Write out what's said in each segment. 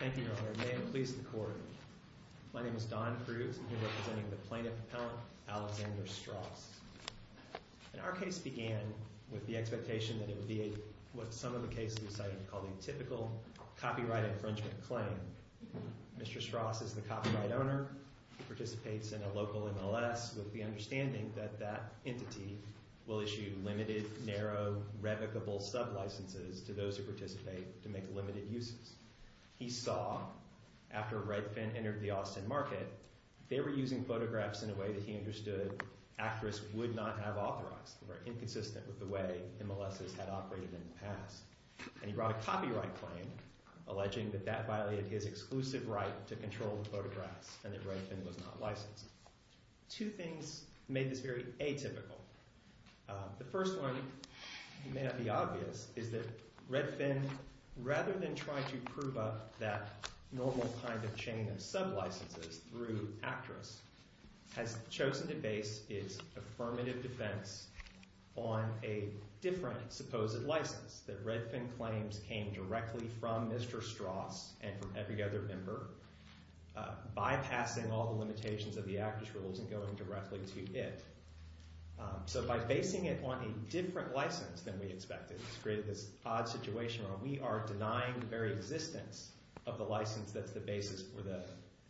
Thank you, Your Honor. May it please the Court. My name is Don Cruz, and I'm here representing the Plaintiff Appellant Alexander Stross. Our case began with the expectation that it would be what some of the cases we cited called a typical copyright infringement claim. Mr. Stross is the copyright owner. He participates in a local MLS with the understanding that that entity will issue limited, narrow, revocable sublicenses to those who participate to make limited uses. He saw, after Redfin entered the Austin market, they were using photographs in a way that he understood actresses would not have authorized, were inconsistent with the way MLSs had operated in the past. And he brought a copyright claim alleging that that violated his exclusive right to control the photographs and that Redfin was not licensed. Two things made this very atypical. The first one may not be obvious is that Redfin, rather than try to prove up that normal kind of chain of sublicenses through actress, has chosen to base its affirmative defense on a different supposed license that Redfin claims came directly from Mr. Stross and from every other member, bypassing all the limitations of the actress rules and going directly to it. So by basing it on a different license than we expected, it's created this odd situation where we are denying the very existence of the license that's the basis for the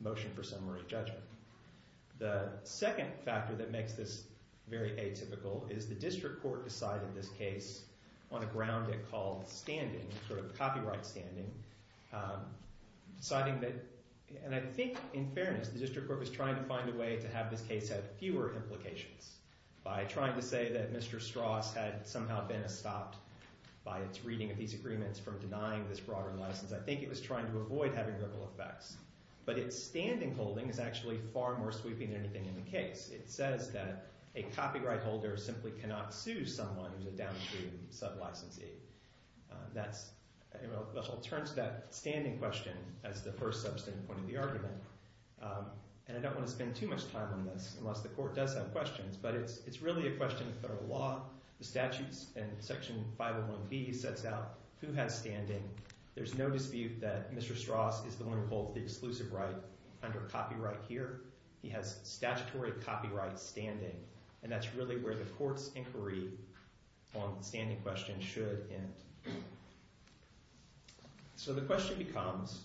motion for summary judgment. The second factor that makes this very atypical is the district court decided this case on a ground it called standing, sort of copyright standing, deciding that, and I think in fairness, the district court was trying to find a way to have this case have fewer implications. By trying to say that Mr. Stross had somehow been stopped by its reading of these agreements from denying this broader license, I think it was trying to avoid having ripple effects. But its standing holding is actually far more sweeping than anything in the case. It says that a copyright holder simply cannot sue someone who's a down-and-true sub-licensee. That's, you know, it turns to that standing question as the first substantive point of the argument. And I don't want to spend too much time on this unless the court does have questions, but it's really a question of federal law, the statutes, and Section 501B sets out who has standing. There's no dispute that Mr. Stross is the one who holds the exclusive right under copyright here. He has statutory copyright standing, and that's really where the court's inquiry on the standing question should end. So the question becomes,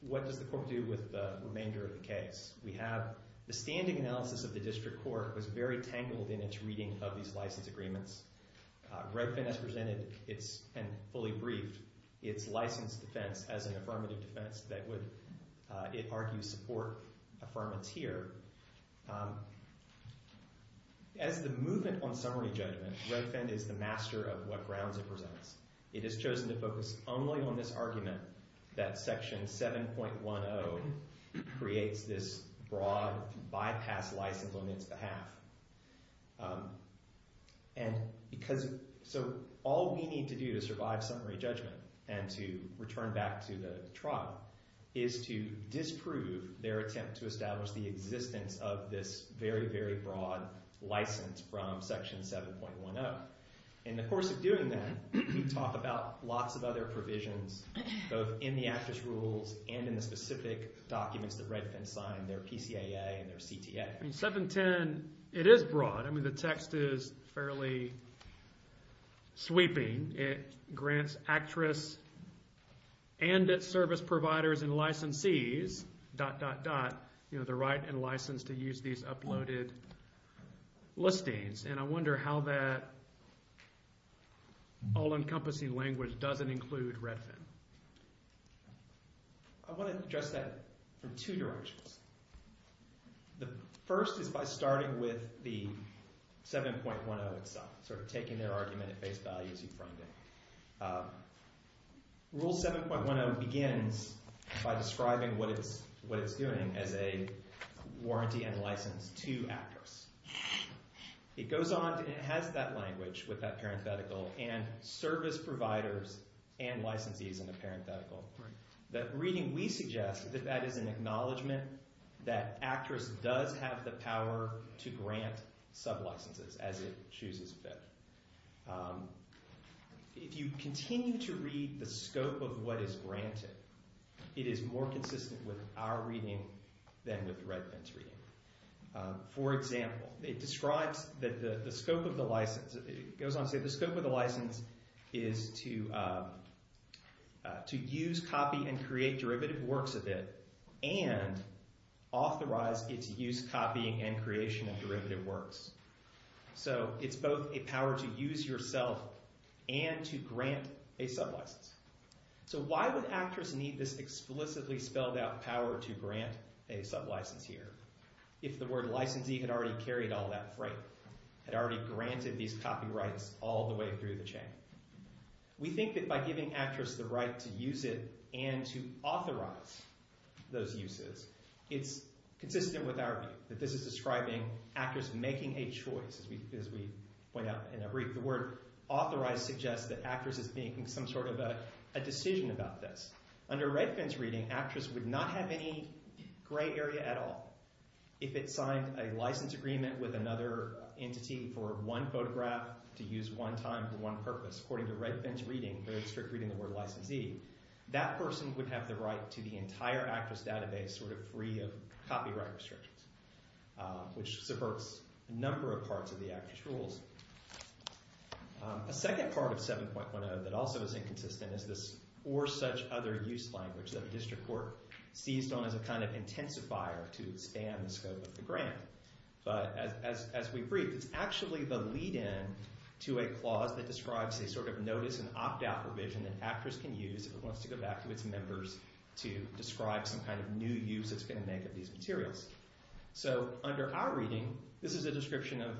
what does the court do with the remainder of the case? We have the standing analysis of the district court was very tangled in its reading of these license agreements. Redfin has presented and fully briefed its license defense as an affirmative defense that would, it argues, support affirmance here. As the movement on summary judgment, Redfin is the master of what grounds it presents. It has chosen to focus only on this argument that Section 7.10 creates this broad bypass license on its behalf. So all we need to do to survive summary judgment and to return back to the trial is to disprove their attempt to establish the existence of this very, very broad license from Section 7.10. In the course of doing that, we talk about lots of other provisions both in the Actus Rules and in the specific documents that Redfin signed, their PCAA and their CTA. I mean, 7.10, it is broad. I mean, the text is fairly sweeping. It grants actress and its service providers and licensees, dot, dot, dot, the right and license to use these uploaded listings. And I wonder how that all-encompassing language doesn't include Redfin. I want to address that from two directions. The first is by starting with the 7.10 itself, sort of taking their argument at face value as you framed it. Rule 7.10 begins by describing what it's doing as a warranty and license to actress. It goes on to – it has that language with that parenthetical and service providers and licensees in the parenthetical. That reading, we suggest that that is an acknowledgment that actress does have the power to grant sublicenses as it chooses fit. If you continue to read the scope of what is granted, it is more consistent with our reading than with Redfin's reading. For example, it describes that the scope of the license – it goes on to say the scope of the license is to use, copy, and create derivative works of it and authorize its use, copy, and creation of derivative works. So it's both a power to use yourself and to grant a sublicense. So why would actress need this explicitly spelled out power to grant a sublicense here if the word licensee had already carried all that freight, had already granted these copyrights all the way through the chain? We think that by giving actress the right to use it and to authorize those uses, it's consistent with our view. This is describing actress making a choice, as we point out in our brief. The word authorize suggests that actress is making some sort of a decision about this. Under Redfin's reading, actress would not have any gray area at all. If it signed a license agreement with another entity for one photograph to use one time for one purpose, according to Redfin's reading, very strict reading of the word licensee, that person would have the right to the entire actress database sort of free of copyright restrictions, which subverts a number of parts of the actress rules. A second part of 7.10 that also is inconsistent is this or such other use language that the district court seized on as a kind of intensifier to expand the scope of the grant. As we brief, it's actually the lead-in to a clause that describes a sort of notice and opt-out provision that actress can use if it wants to go back to its members to describe some kind of new use it's going to make of these materials. Under our reading, this is a description of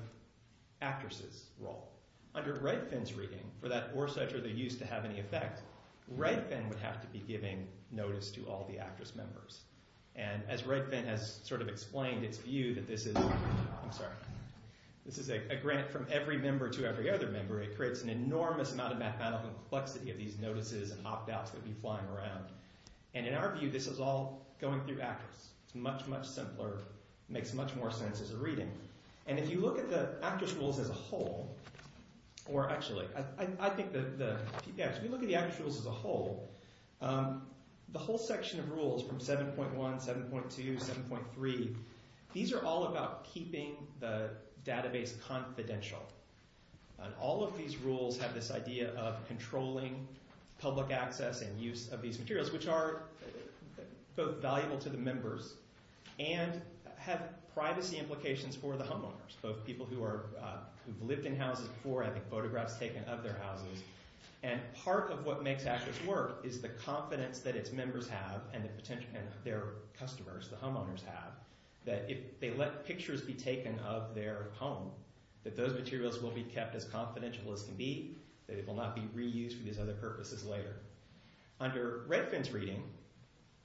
actress's role. Under Redfin's reading, for that or such other use to have any effect, Redfin would have to be giving notice to all the actress members. As Redfin has sort of explained, it's viewed that this is a grant from every member to every other member. It creates an enormous amount of mathematical complexity of these notices and opt-outs that would be flying around. In our view, this is all going through actress. It's much, much simpler. It makes much more sense as a reading. If you look at the actress rules as a whole, or actually, I think the PPS, if you look at the actress rules as a whole, the whole section of rules from 7.1, 7.2, 7.3, these are all about keeping the database confidential. All of these rules have this idea of controlling public access and use of these materials, which are both valuable to the members and have privacy implications for the homeowners, both people who have lived in houses before, having photographs taken of their houses. Part of what makes actress work is the confidence that its members have and their customers, the homeowners have, that if they let pictures be taken of their home, that those materials will be kept as confidential as can be, that it will not be reused for these other purposes later. Under Redfin's reading,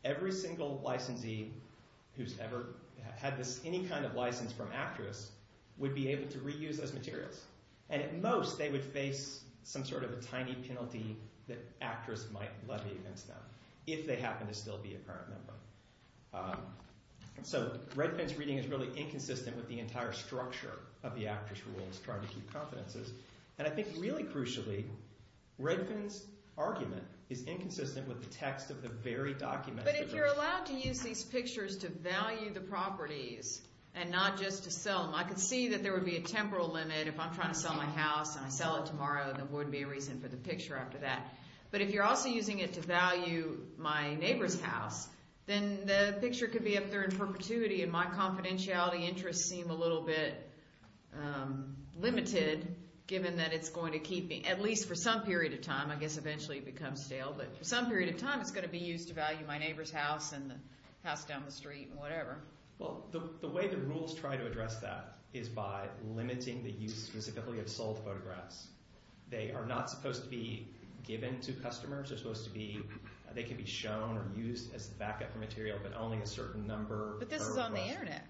every single licensee who's ever had any kind of license from actress would be able to reuse those materials. At most, they would face some sort of a tiny penalty that actress might levy against them, if they happen to still be a parent member. Redfin's reading is really inconsistent with the entire structure of the actress rules, trying to keep confidences. I think, really crucially, Redfin's argument is inconsistent with the text of the very document. But if you're allowed to use these pictures to value the properties and not just to sell them, I could see that there would be a temporal limit if I'm trying to sell my house and I sell it tomorrow, there wouldn't be a reason for the picture after that. But if you're also using it to value my neighbor's house, then the picture could be up there in perpetuity, and my confidentiality interests seem a little bit limited, given that it's going to keep me, at least for some period of time, I guess eventually it becomes stale, but for some period of time it's going to be used to value my neighbor's house and the house down the street and whatever. Well, the way the rules try to address that is by limiting the use specifically of sold photographs. They are not supposed to be given to customers, they can be shown or used as a backup material, but only a certain number of photographs. But this is on the internet.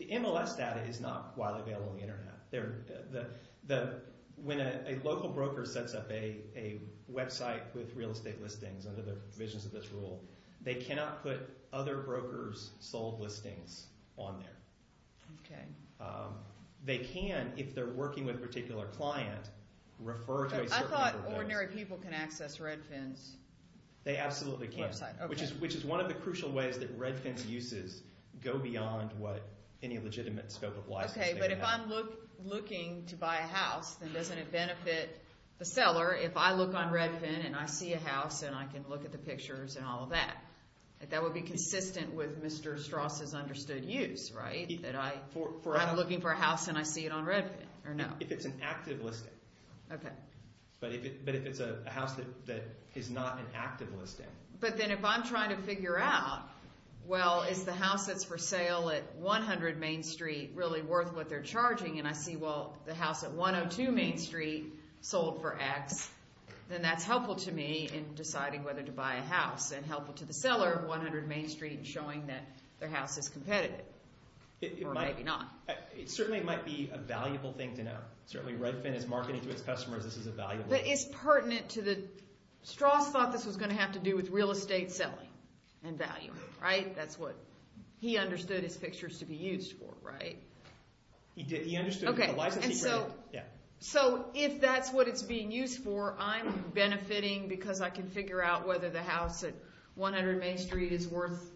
The MLS data is not widely available on the internet. When a local broker sets up a website with real estate listings under the provisions of this rule, they cannot put other brokers' sold listings on there. Okay. They can, if they're working with a particular client, refer to a certain number of those. But I thought ordinary people can access Redfin's website. They absolutely can, which is one of the crucial ways that Redfin's uses go beyond what any legitimate scope of license may have. Okay, but if I'm looking to buy a house, then doesn't it benefit the seller if I look on Redfin and I see a house and I can look at the pictures and all of that? That would be consistent with Mr. Strauss's understood use, right? That I'm looking for a house and I see it on Redfin or no? If it's an active listing. Okay. But if it's a house that is not an active listing. But then if I'm trying to figure out, well, is the house that's for sale at 100 Main Street really worth what they're charging, and I see, well, the house at 102 Main Street sold for X, then that's helpful to me in deciding whether to buy a house. And helpful to the seller at 100 Main Street in showing that their house is competitive. Or maybe not. It certainly might be a valuable thing to know. Certainly Redfin is marketing to its customers this is a valuable thing. But it's pertinent to the, Strauss thought this was going to have to do with real estate selling and value, right? That's what he understood his pictures to be used for, right? He understood the licensee credit. So if that's what it's being used for, I'm benefiting because I can figure out whether the house at 100 Main Street is worth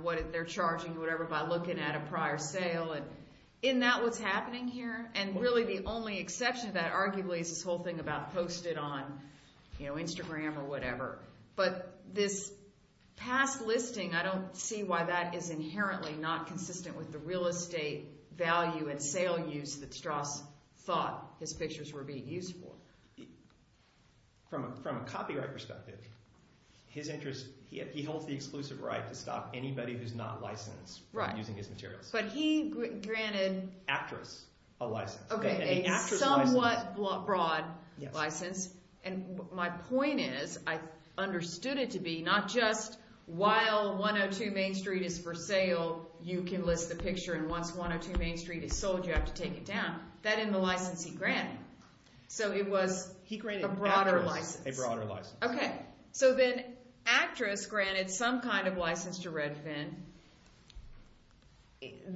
what they're charging or whatever by looking at a prior sale. Isn't that what's happening here? And really the only exception to that arguably is this whole thing about post it on Instagram or whatever. But this past listing, I don't see why that is inherently not consistent with the real estate value and sale use that Strauss thought his pictures were being used for. From a copyright perspective, his interest, he holds the exclusive right to stop anybody who's not licensed from using his materials. But he granted… Actress a license. A somewhat broad license. And my point is I understood it to be not just while 102 Main Street is for sale you can list the picture and once 102 Main Street is sold you have to take it down. That and the license he granted. So it was a broader license. A broader license. Okay. So then actress granted some kind of license to Redfin.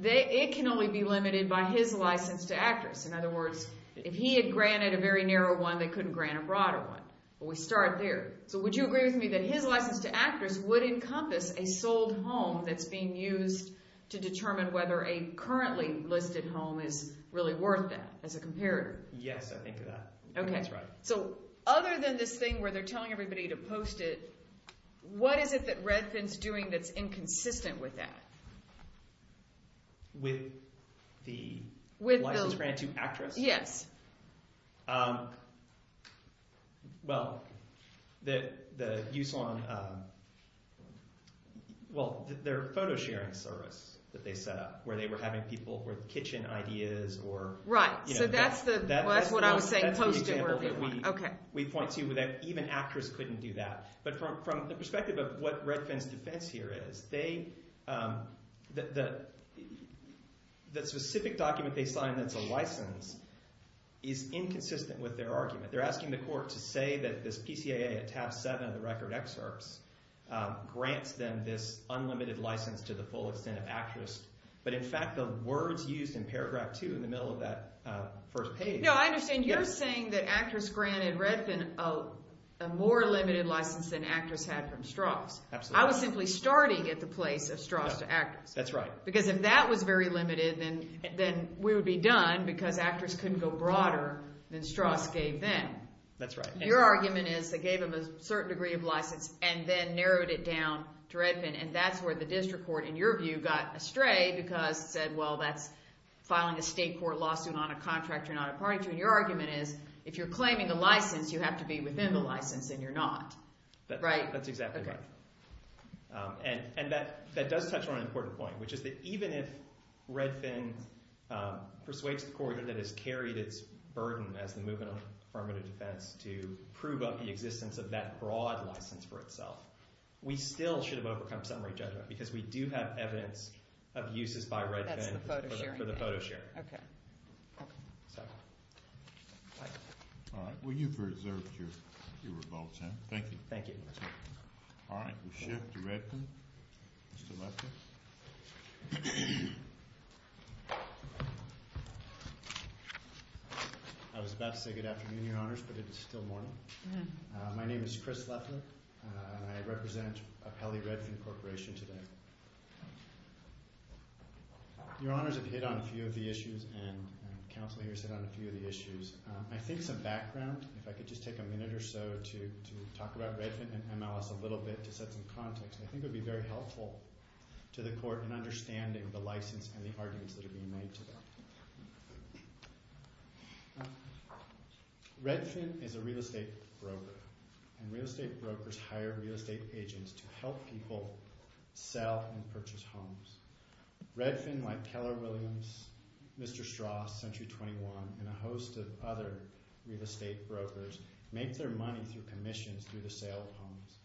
It can only be limited by his license to actress. In other words, if he had granted a very narrow one they couldn't grant a broader one. But we start there. So would you agree with me that his license to actress would encompass a sold home that's being used to determine whether a currently listed home is really worth that as a comparator? Yes, I think of that. Okay. That's right. So other than this thing where they're telling everybody to post it, what is it that Redfin's doing that's inconsistent with that? With the license grant to actress? Yes. Well, the use on – well, their photo sharing service that they set up where they were having people with kitchen ideas or – Right. So that's the – well, that's what I was saying. That's the example that we point to that even actress couldn't do that. But from the perspective of what Redfin's defense here is, they – the specific document they signed that's a license is inconsistent with their argument. They're asking the court to say that this PCAA at tab seven of the record excerpts grants them this unlimited license to the full extent of actress. But in fact, the words used in paragraph two in the middle of that first page – Absolutely. I was simply starting at the place of Strauss to actress. That's right. Because if that was very limited, then we would be done because actress couldn't go broader than Strauss gave them. That's right. Your argument is they gave them a certain degree of license and then narrowed it down to Redfin, and that's where the district court, in your view, got astray because it said, well, that's filing a state court lawsuit on a contract you're not a party to. And your argument is if you're claiming a license, you have to be within the license and you're not. Right. That's exactly right. Okay. And that does touch on an important point, which is that even if Redfin persuades the court that it has carried its burden as the movement of affirmative defense to prove up the existence of that broad license for itself, we still should have overcome summary judgment because we do have evidence of uses by Redfin – That's the photo sharing thing. For the photo sharing. Okay. All right. Well, you've reserved your revolt, then. Thank you. Thank you. All right. We'll shift to Redfin. Mr. Leffler. I was about to say good afternoon, Your Honors, but it is still morning. My name is Chris Leffler, and I represent Apelli Redfin Corporation today. Your Honors have hit on a few of the issues, and counsel here has hit on a few of the issues. I think some background, if I could just take a minute or so to talk about Redfin and MLS a little bit to set some context, I think it would be very helpful to the court in understanding the license and the arguments that are being made today. Redfin is a real estate broker, and real estate brokers hire real estate agents to help people sell and purchase homes. Redfin, like Keller Williams, Mr. Strauss, Century 21, and a host of other real estate brokers, make their money through commissions through the sale of homes.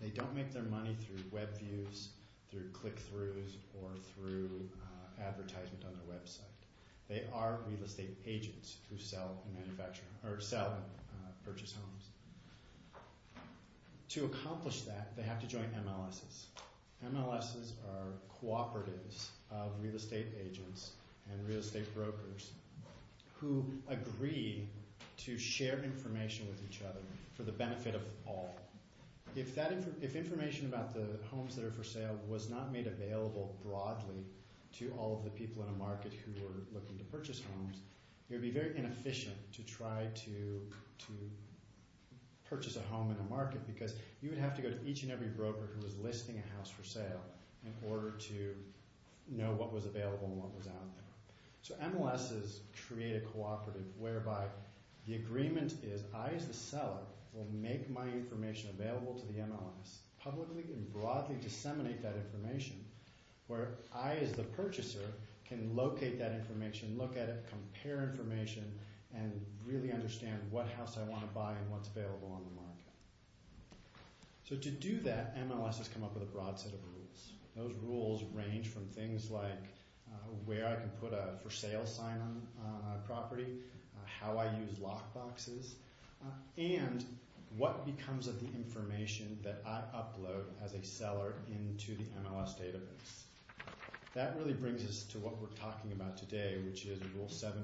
They don't make their money through web views, through click-throughs, or through advertisement on their website. They are real estate agents who sell and purchase homes. To accomplish that, they have to join MLSs. MLSs are cooperatives of real estate agents and real estate brokers who agree to share information with each other for the benefit of all. If information about the homes that are for sale was not made available broadly to all of the people in a market who were looking to purchase homes, it would be very inefficient to try to purchase a home in a market, because you would have to go to each and every broker who was listing a house for sale in order to know what was available and what was out there. MLSs create a cooperative whereby the agreement is, I, as the seller, will make my information available to the MLS, publicly and broadly disseminate that information, where I, as the purchaser, can locate that information, look at it, compare information, and really understand what house I want to buy and what's available on the market. To do that, MLSs come up with a broad set of rules. Those rules range from things like where I can put a for sale sign on a property, how I use lockboxes, and what becomes of the information that I upload as a seller into the MLS database. That really brings us to what we're talking about today, which is Rule 7.10.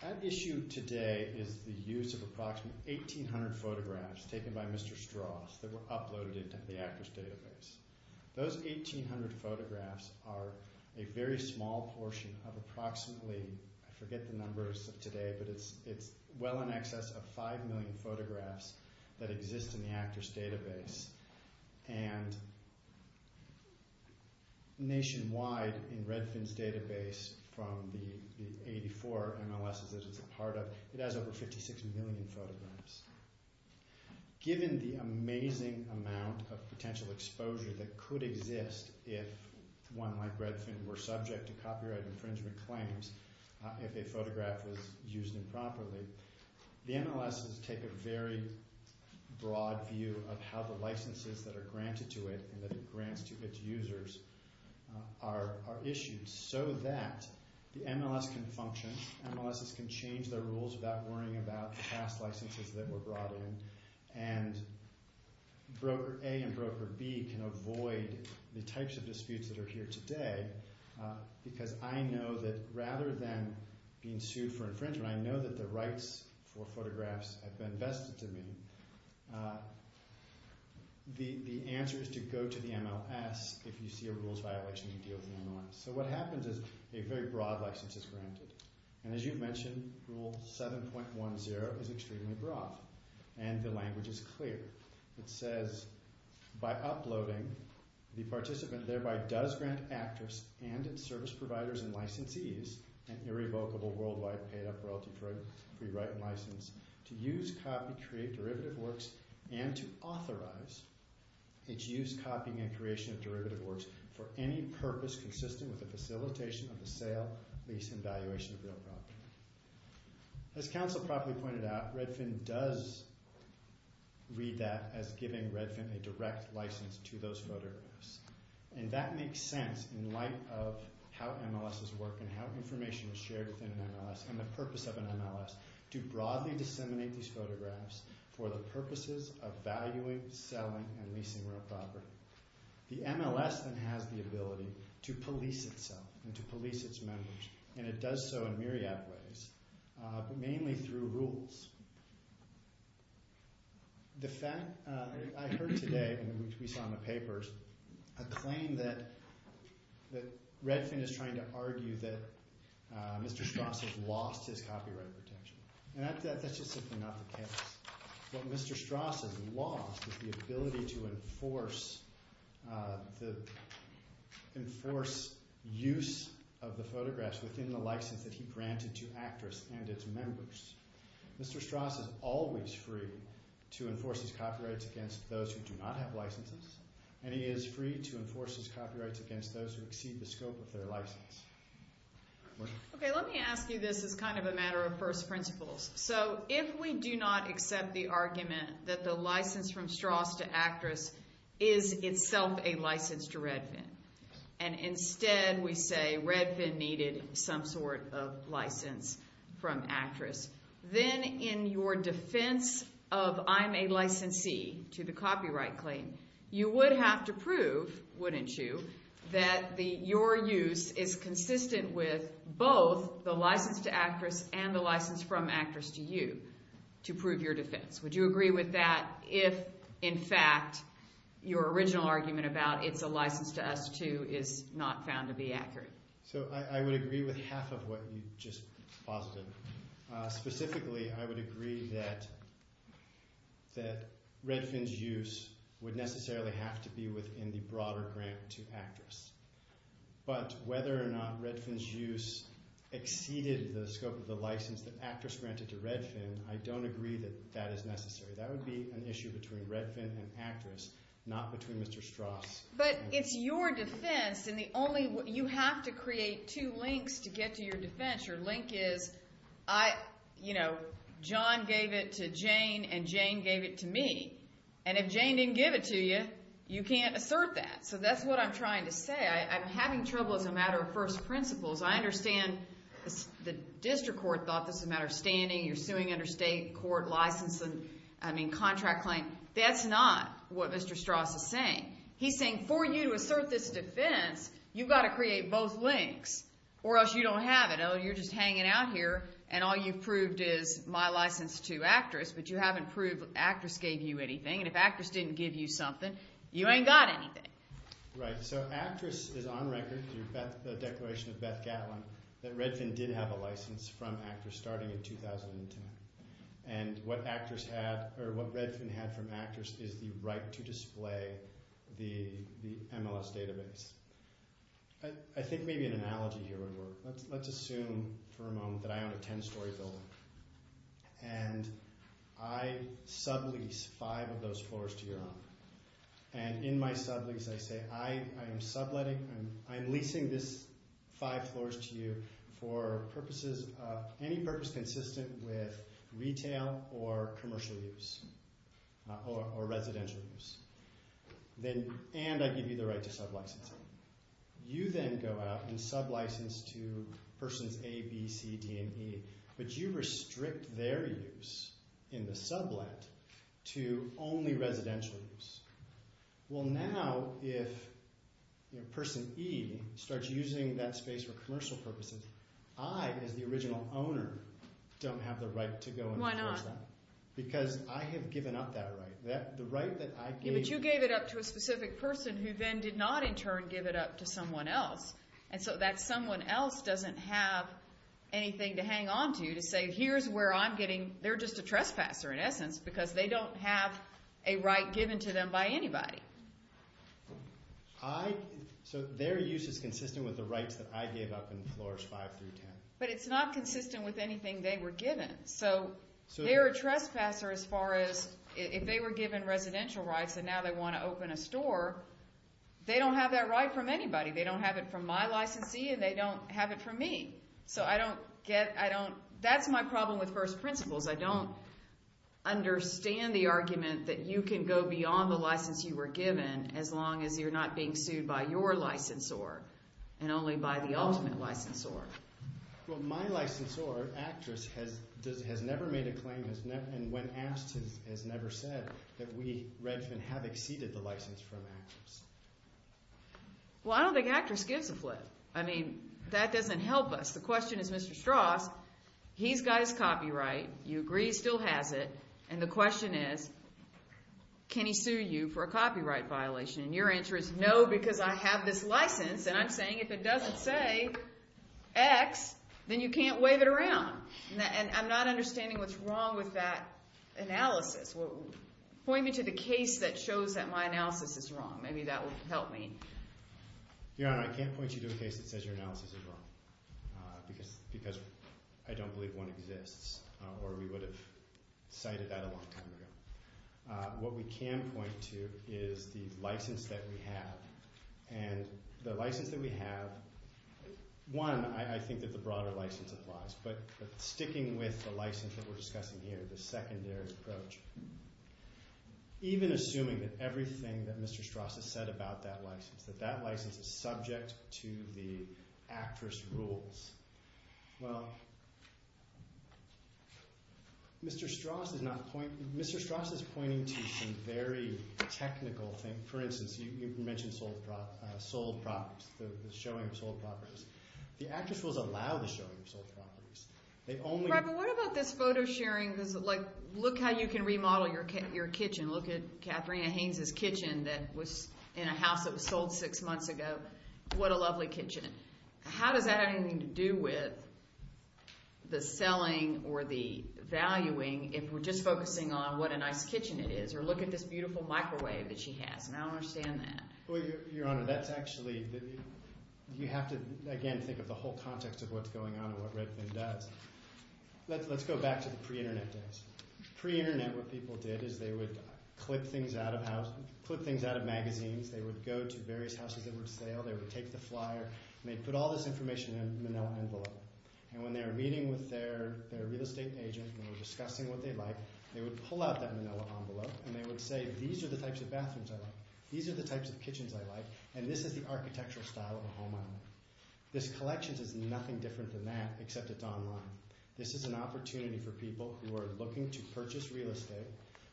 At issue today is the use of approximately 1,800 photographs taken by Mr. Strauss that were uploaded into the Actors Database. Those 1,800 photographs are a very small portion of approximately, I forget the numbers of today, but it's well in excess of 5 million photographs that exist in the Actors Database. Nationwide, in Redfin's database, from the 84 MLSs that it's a part of, it has over 56 million photographs. Given the amazing amount of potential exposure that could exist if one like Redfin were subject to copyright infringement claims if a photograph was used improperly, the MLSs take a very broad view of how the licenses that are granted to it and that it grants to its users are issued so that the MLSs can function. MLSs can change their rules without worrying about the past licenses that were brought in. Broker A and Broker B can avoid the types of disputes that are here today because I know that rather than being sued for infringement, I know that the rights for photographs have been vested to me. The answer is to go to the MLS if you see a rules violation and deal with the MLS. What happens is a very broad license is granted. As you've mentioned, Rule 7.10 is extremely broad, and the language is clear. It says, by uploading, the participant thereby does grant Actors and its service providers and licensees an irrevocable worldwide paid-up royalty for a free right in license to use, copy, create derivative works, and to authorize its use, copying, and creation of derivative works for any purpose consistent with the facilitation of the sale, lease, and valuation of real property. As Council properly pointed out, Redfin does read that as giving Redfin a direct license to those photographs. That makes sense in light of how MLSs work and how information is shared within an MLS and the purpose of an MLS to broadly disseminate these photographs for the purposes of valuing, selling, and leasing real property. The MLS then has the ability to police itself and to police its members, and it does so in myriad ways, but mainly through rules. I heard today, which we saw in the papers, a claim that Redfin is trying to argue that Mr. Strauss has lost his copyright protection. That's just simply not the case. What Mr. Strauss has lost is the ability to enforce use of the photographs within the license that he granted to Actors and its members. Mr. Strauss is always free to enforce his copyrights against those who do not have licenses, and he is free to enforce his copyrights against those who exceed the scope of their license. Okay, let me ask you this as kind of a matter of first principles. So if we do not accept the argument that the license from Strauss to Actress is itself a license to Redfin, and instead we say Redfin needed some sort of license from Actress, then in your defense of I'm a licensee to the copyright claim, you would have to prove, wouldn't you, that your use is consistent with both the license to Actress and the license from Actress to you to prove your defense. Would you agree with that if, in fact, your original argument about it's a license to us, too, is not found to be accurate? So I would agree with half of what you just posited. Specifically, I would agree that Redfin's use would necessarily have to be within the broader grant to Actress. But whether or not Redfin's use exceeded the scope of the license that Actress granted to Redfin, I don't agree that that is necessary. That would be an issue between Redfin and Actress, not between Mr. Strauss. But it's your defense. And you have to create two links to get to your defense. Your link is John gave it to Jane, and Jane gave it to me. And if Jane didn't give it to you, you can't assert that. So that's what I'm trying to say. I'm having trouble as a matter of first principles. I understand the district court thought this was a matter of standing. You're suing under state court license and contract claim. That's not what Mr. Strauss is saying. He's saying for you to assert this defense, you've got to create both links or else you don't have it. Oh, you're just hanging out here, and all you've proved is my license to Actress, but you haven't proved Actress gave you anything. And if Actress didn't give you something, you ain't got anything. Right, so Actress is on record through the declaration of Beth Gatlin that Redfin did have a license from Actress starting in 2010. And what Actress had or what Redfin had from Actress is the right to display the MLS database. I think maybe an analogy here would work. Let's assume for a moment that I own a 10-story building, and I sublease five of those floors to your owner. And in my sublease, I say I am subletting, I'm leasing this five floors to you for purposes, any purpose consistent with retail or commercial use or residential use. And I give you the right to sublicense it. You then go out and sublicense to Persons A, B, C, D, and E, but you restrict their use in the sublet to only residential use. Well, now if Person E starts using that space for commercial purposes, I, as the original owner, don't have the right to go and enforce that. Why not? Because I have given up that right. But you gave it up to a specific person who then did not, in turn, give it up to someone else. And so that someone else doesn't have anything to hang onto to say, here's where I'm getting – they're just a trespasser, in essence, because they don't have a right given to them by anybody. So their use is consistent with the rights that I gave up in floors 5 through 10. But it's not consistent with anything they were given. So they're a trespasser as far as – if they were given residential rights and now they want to open a store, they don't have that right from anybody. They don't have it from my licensee and they don't have it from me. So I don't get – I don't – that's my problem with first principles. I don't understand the argument that you can go beyond the license you were given as long as you're not being sued by your licensor and only by the ultimate licensor. Well, my licensor, Actress, has never made a claim and when asked has never said that we, Redfin, have exceeded the license from Actress. Well, I don't think Actress gives a flip. I mean that doesn't help us. The question is Mr. Strauss. He's got his copyright. You agree he still has it. And the question is can he sue you for a copyright violation? And your answer is no because I have this license and I'm saying if it doesn't say X, then you can't wave it around. And I'm not understanding what's wrong with that analysis. Point me to the case that shows that my analysis is wrong. Maybe that will help me. Your Honor, I can't point you to a case that says your analysis is wrong because I don't believe one exists or we would have cited that a long time ago. What we can point to is the license that we have. And the license that we have, one, I think that the broader license applies. But sticking with the license that we're discussing here, the secondary approach, even assuming that everything that Mr. Strauss has said about that license, that that license is subject to the Actress rules. Well, Mr. Strauss is pointing to some very technical things. For instance, you mentioned sold properties, the showing of sold properties. The Actress rules allow the showing of sold properties. They only— Robert, what about this photo sharing? Like look how you can remodel your kitchen. Look at Katharina Haynes' kitchen that was in a house that was sold six months ago. What a lovely kitchen. How does that have anything to do with the selling or the valuing if we're just focusing on what a nice kitchen it is or look at this beautiful microwave that she has? And I don't understand that. Well, Your Honor, that's actually—you have to, again, think of the whole context of what's going on and what Redfin does. Let's go back to the pre-Internet days. Pre-Internet, what people did is they would clip things out of magazines. They would go to various houses that would sell. They would take the flyer, and they'd put all this information in a manila envelope. And when they were meeting with their real estate agent and were discussing what they liked, they would pull out that manila envelope, and they would say, These are the types of bathrooms I like. These are the types of kitchens I like. And this is the architectural style of a home I like. This collection is nothing different than that except it's online. This is an opportunity for people who are looking to purchase real estate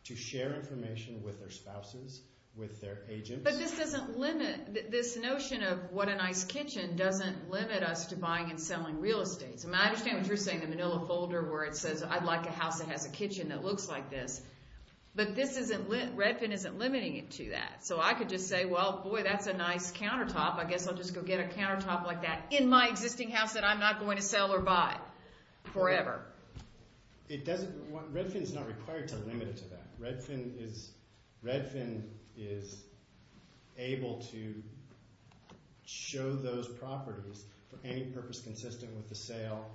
to share information with their spouses, with their agents. But this doesn't limit—this notion of what a nice kitchen doesn't limit us to buying and selling real estate. I mean, I understand what you're saying, the manila folder where it says, I'd like a house that has a kitchen that looks like this. But this isn't—Redfin isn't limiting it to that. So I could just say, well, boy, that's a nice countertop. I guess I'll just go get a countertop like that in my existing house that I'm not going to sell or buy forever. It doesn't—Redfin is not required to limit it to that. Redfin is—Redfin is able to show those properties for any purpose consistent with the sale,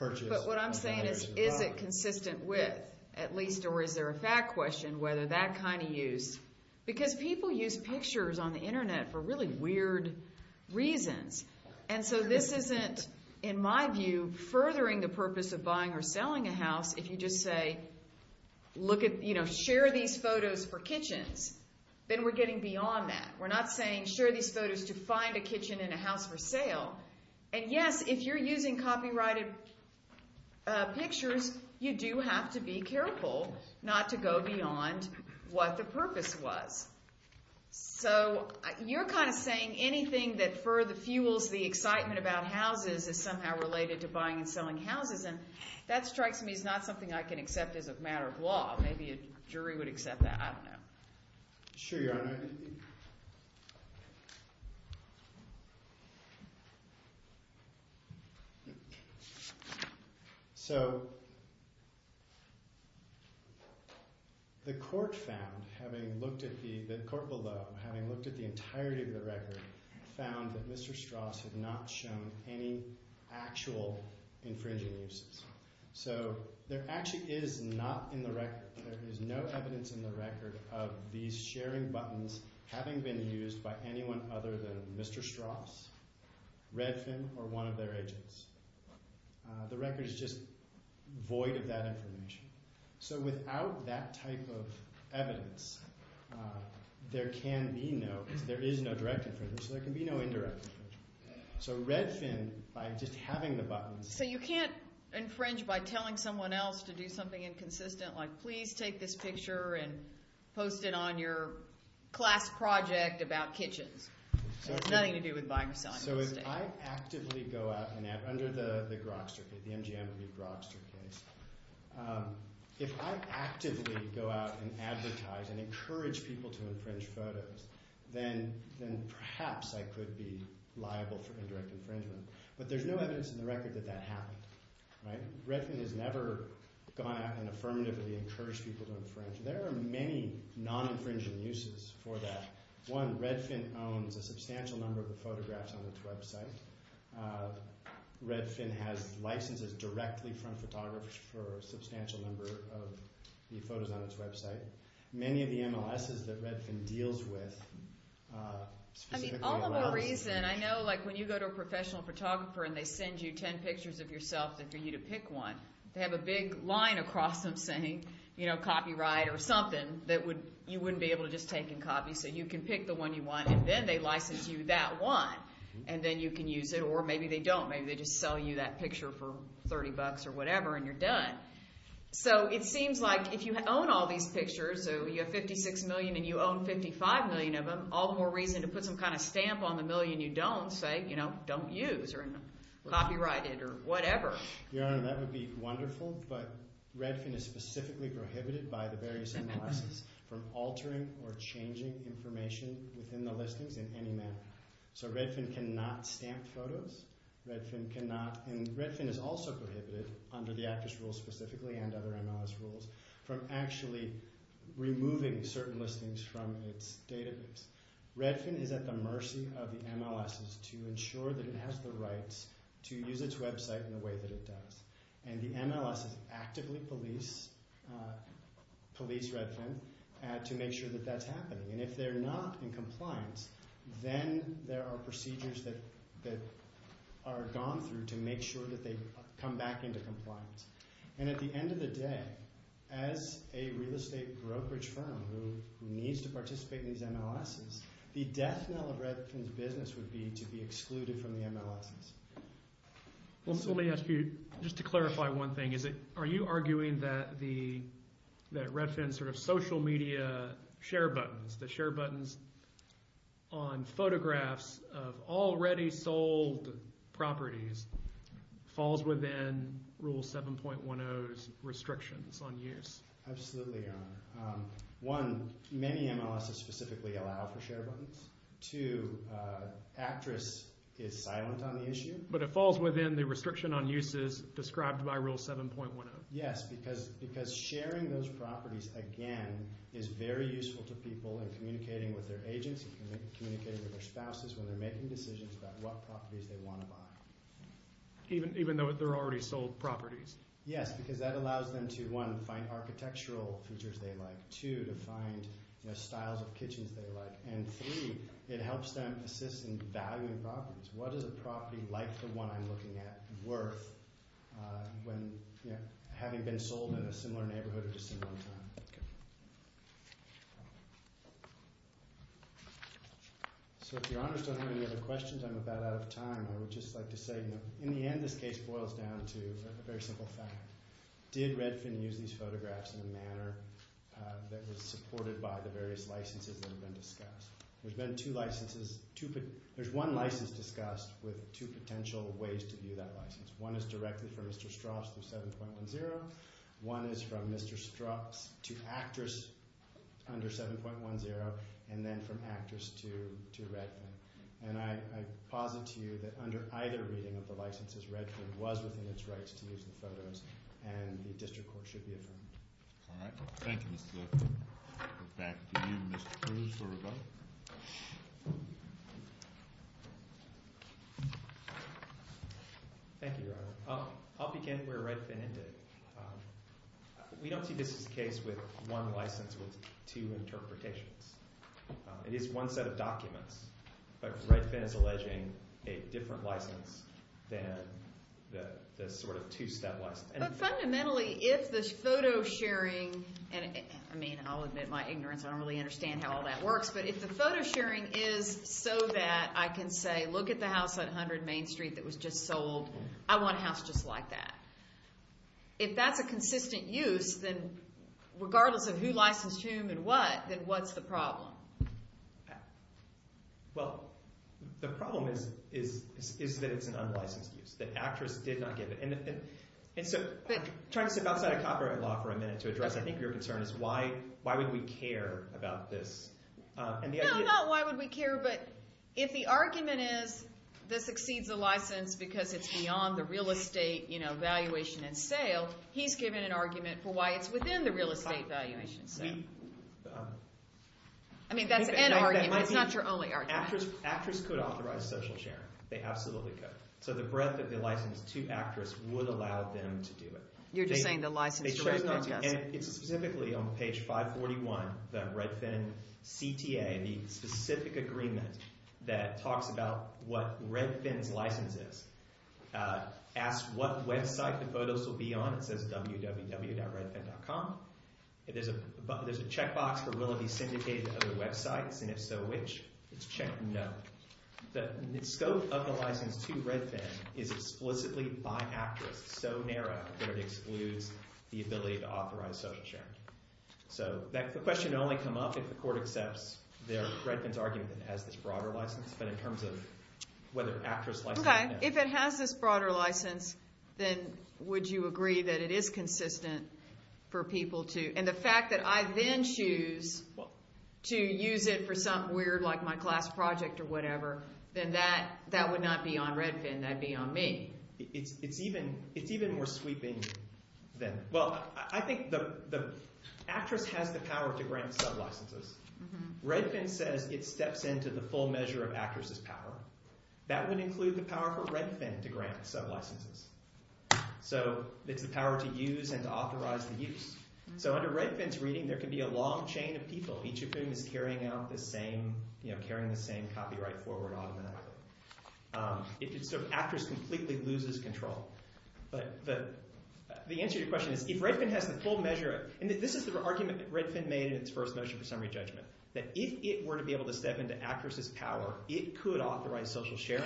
purchase— But what I'm saying is, is it consistent with, at least, or is there a fact question whether that kind of use— because people use pictures on the Internet for really weird reasons. And so this isn't, in my view, furthering the purpose of buying or selling a house if you just say, look at—share these photos for kitchens. Then we're getting beyond that. We're not saying share these photos to find a kitchen in a house for sale. And yes, if you're using copyrighted pictures, you do have to be careful not to go beyond what the purpose was. So you're kind of saying anything that further fuels the excitement about houses is somehow related to buying and selling houses. And that strikes me as not something I can accept as a matter of law. Maybe a jury would accept that. I don't know. The court found, having looked at the—the court below, having looked at the entirety of the record, found that Mr. Strauss had not shown any actual infringing uses. So there actually is not in the record—there is no evidence in the record of these sharing buttons having been used by anyone other than Mr. Strauss, Redfin, or one of their agents. The record is just void of that information. So without that type of evidence, there can be no—there is no direct infringement, so there can be no indirect infringement. So Redfin, by just having the buttons— So you can't infringe by telling someone else to do something inconsistent, like please take this picture and post it on your class project about kitchens. It has nothing to do with buying or selling those things. So if I actively go out and—under the Grokster case, the MGM v. Grokster case, if I actively go out and advertise and encourage people to infringe photos, then perhaps I could be liable for indirect infringement. But there's no evidence in the record that that happened, right? Redfin has never gone out and affirmatively encouraged people to infringe. There are many non-infringing uses for that. One, Redfin owns a substantial number of the photographs on its website. Redfin has licenses directly from photographers for a substantial number of the photos on its website. Many of the MLSs that Redfin deals with specifically allow— I mean, all of a reason. I know, like, when you go to a professional photographer and they send you ten pictures of yourself and for you to pick one, they have a big line across them saying, you know, copyright or something that you wouldn't be able to just take and copy. So you can pick the one you want, and then they license you that one, and then you can use it, or maybe they don't. Maybe they just sell you that picture for $30 or whatever, and you're done. So it seems like if you own all these pictures, so you have 56 million and you own 55 million of them, all the more reason to put some kind of stamp on the million you don't, say, you know, don't use or copyright it or whatever. Your Honor, that would be wonderful, but Redfin is specifically prohibited by the various MLSs from altering or changing information within the listings in any manner. So Redfin cannot stamp photos. Redfin cannot—and Redfin is also prohibited, under the Actors Rule specifically and other MLS rules, from actually removing certain listings from its database. Redfin is at the mercy of the MLSs to ensure that it has the rights to use its website in the way that it does. And the MLSs actively police Redfin to make sure that that's happening. And if they're not in compliance, then there are procedures that are gone through to make sure that they come back into compliance. And at the end of the day, as a real estate brokerage firm who needs to participate in these MLSs, the death knell of Redfin's business would be to be excluded from the MLSs. Let me ask you, just to clarify one thing, are you arguing that Redfin's sort of social media share buttons, the share buttons on photographs of already sold properties, falls within Rule 7.10's restrictions on use? Absolutely, Your Honor. One, many MLSs specifically allow for share buttons. Two, Actress is silent on the issue. But it falls within the restriction on uses described by Rule 7.10? Yes, because sharing those properties, again, is very useful to people in communicating with their agency, communicating with their spouses when they're making decisions about what properties they want to buy. Even though they're already sold properties? Yes, because that allows them to, one, find architectural features they like, two, to find styles of kitchens they like, and three, it helps them assist in valuing properties. What is a property like the one I'm looking at worth when having been sold in a similar neighborhood at a similar time? Okay. So if Your Honors don't have any other questions, I'm about out of time. I would just like to say, in the end, this case boils down to a very simple fact. Did Redfin use these photographs in a manner that was supported by the various licenses that have been discussed? There's been two licenses. There's one license discussed with two potential ways to view that license. One is directed for Mr. Strauss through 7.10. One is from Mr. Strauss to Actress under 7.10, and then from Actress to Redfin. And I posit to you that under either reading of the licenses, Redfin was within its rights to use the photos, and the district court should be affirmed. All right. Thank you, Mr. Glickman. Back to you, Mr. Cruz, for rebuttal. Thank you, Your Honor. I'll begin where Redfin ended. We don't see this as the case with one license with two interpretations. It is one set of documents, but Redfin is alleging a different license than the sort of two-step license. But fundamentally, if the photo sharing, and, I mean, I'll admit my ignorance. I don't really understand how all that works. But if the photo sharing is so that I can say, look at the house at 100 Main Street that was just sold. I want a house just like that. If that's a consistent use, then regardless of who licensed whom and what, then what's the problem? Well, the problem is that it's an unlicensed use, that Actress did not give it. And so trying to step outside of copyright law for a minute to address, I think your concern is why would we care about this? No, not why would we care, but if the argument is this exceeds the license because it's beyond the real estate valuation and sale, he's giving an argument for why it's within the real estate valuation. I mean, that's an argument. It's not your only argument. Actress could authorize social sharing. They absolutely could. So the breadth of the license to Actress would allow them to do it. You're just saying the license to Redfin doesn't. It's specifically on page 541, the Redfin CTA, the specific agreement that talks about what Redfin's license is. Ask what website the photos will be on. It says www.redfin.com. There's a checkbox for will it be syndicated to other websites, and if so, which? It's checked, no. The scope of the license to Redfin is explicitly by Actress, so narrow that it excludes the ability to authorize social sharing. So the question would only come up if the court accepts Redfin's argument that it has this broader license, but in terms of whether Actress licensed it or not. Okay, if it has this broader license, then would you agree that it is consistent for people to, and the fact that I then choose to use it for something weird like my class project or whatever, then that would not be on Redfin. That would be on me. It's even more sweeping than that. Well, I think Actress has the power to grant sublicenses. Redfin says it steps into the full measure of Actress's power. That would include the power for Redfin to grant sublicenses. So it's the power to use and to authorize the use. So under Redfin's reading, there can be a long chain of people, each of whom is carrying the same copyright forward automatically. So Actress completely loses control. But the answer to your question is, if Redfin has the full measure, and this is the argument that Redfin made in its first motion for summary judgment, that if it were to be able to step into Actress's power, it could authorize social sharing.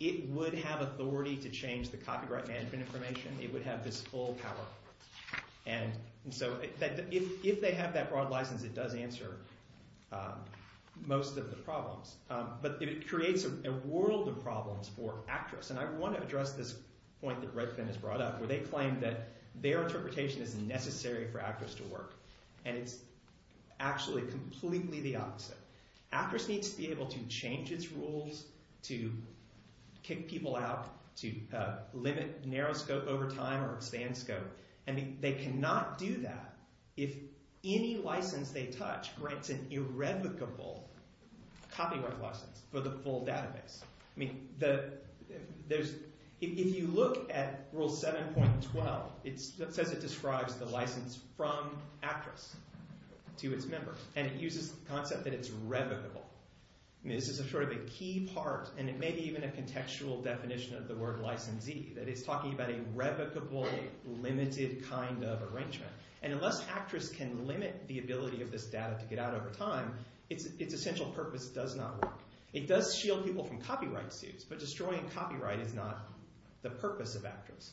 It would have authority to change the copyright management information. It would have this full power. And so if they have that broad license, it does answer most of the problems. But it creates a world of problems for Actress. And I want to address this point that Redfin has brought up, where they claim that their interpretation is necessary for Actress to work. And it's actually completely the opposite. Actress needs to be able to change its rules to kick people out, to limit narrow scope over time or expand scope. And they cannot do that if any license they touch grants an irrevocable copyright license for the full database. If you look at Rule 7.12, it says it describes the license from Actress to its members. And it uses the concept that it's revocable. This is sort of a key part, and it may be even a contextual definition of the word licensee, that it's talking about a revocable, limited kind of arrangement. And unless Actress can limit the ability of this data to get out over time, its essential purpose does not work. It does shield people from copyright suits, but destroying copyright is not the purpose of Actress.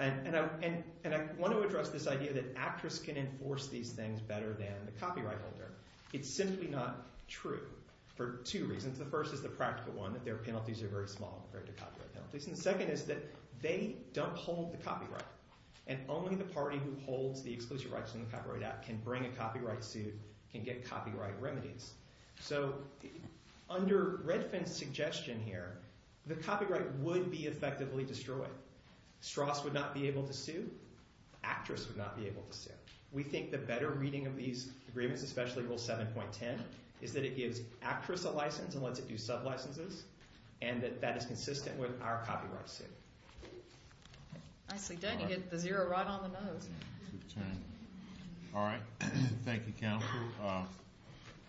And I want to address this idea that Actress can enforce these things better than the copyright holder. It's simply not true. For two reasons. The first is the practical one, that their penalties are very small compared to copyright penalties. And the second is that they don't hold the copyright. And only the party who holds the exclusive rights in the Copyright Act can bring a copyright suit, can get copyright remedies. So under Redfin's suggestion here, the copyright would be effectively destroyed. Strass would not be able to sue. Actress would not be able to sue. We think the better reading of these agreements, especially Rule 7.10, is that it gives Actress a license and lets it do sub-licenses, and that that is consistent with our copyright suit. Nicely done. You get the zero right on the nose. All right. Thank you, Counsel,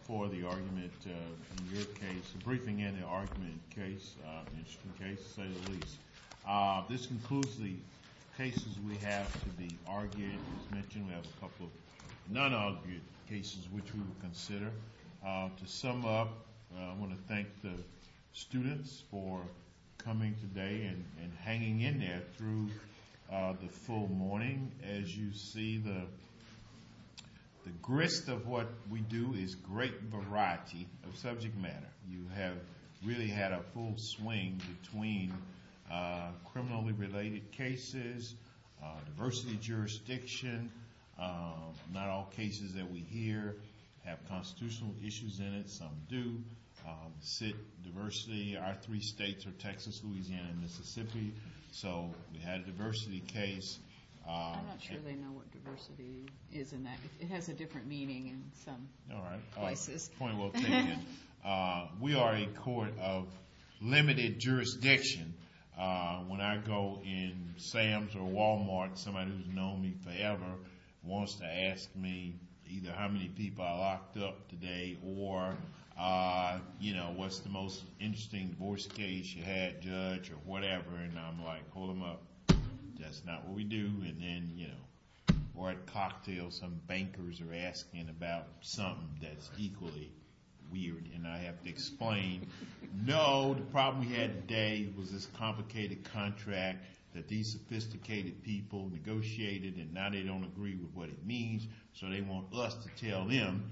for the argument in your case. Briefing in the argument case. Interesting case, to say the least. This concludes the cases we have to be argued. We have a couple of non-argued cases which we will consider. To sum up, I want to thank the students for coming today and hanging in there through the full morning. As you see, the grist of what we do is great variety of subject matter. You have really had a full swing between criminally related cases, diversity of jurisdiction. Not all cases that we hear have constitutional issues in it. Some do. Diversity. Our three states are Texas, Louisiana, and Mississippi. So we had a diversity case. I'm not sure they know what diversity is in that. It has a different meaning in some places. All right. Point well taken. We are a court of limited jurisdiction. When I go in Sam's or Walmart, somebody who has known me forever wants to ask me either how many people are locked up today or what's the most interesting divorce case you had, judge, or whatever. And I'm like, hold them up. That's not what we do. And then, you know, we're at cocktail. Some bankers are asking about something that's equally weird, and I have to explain. No, the problem we had today was this complicated contract that these sophisticated people negotiated, and now they don't agree with what it means, so they want us to tell them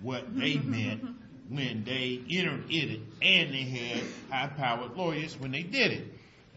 what they meant when they iterated, and they had high-powered lawyers when they did it.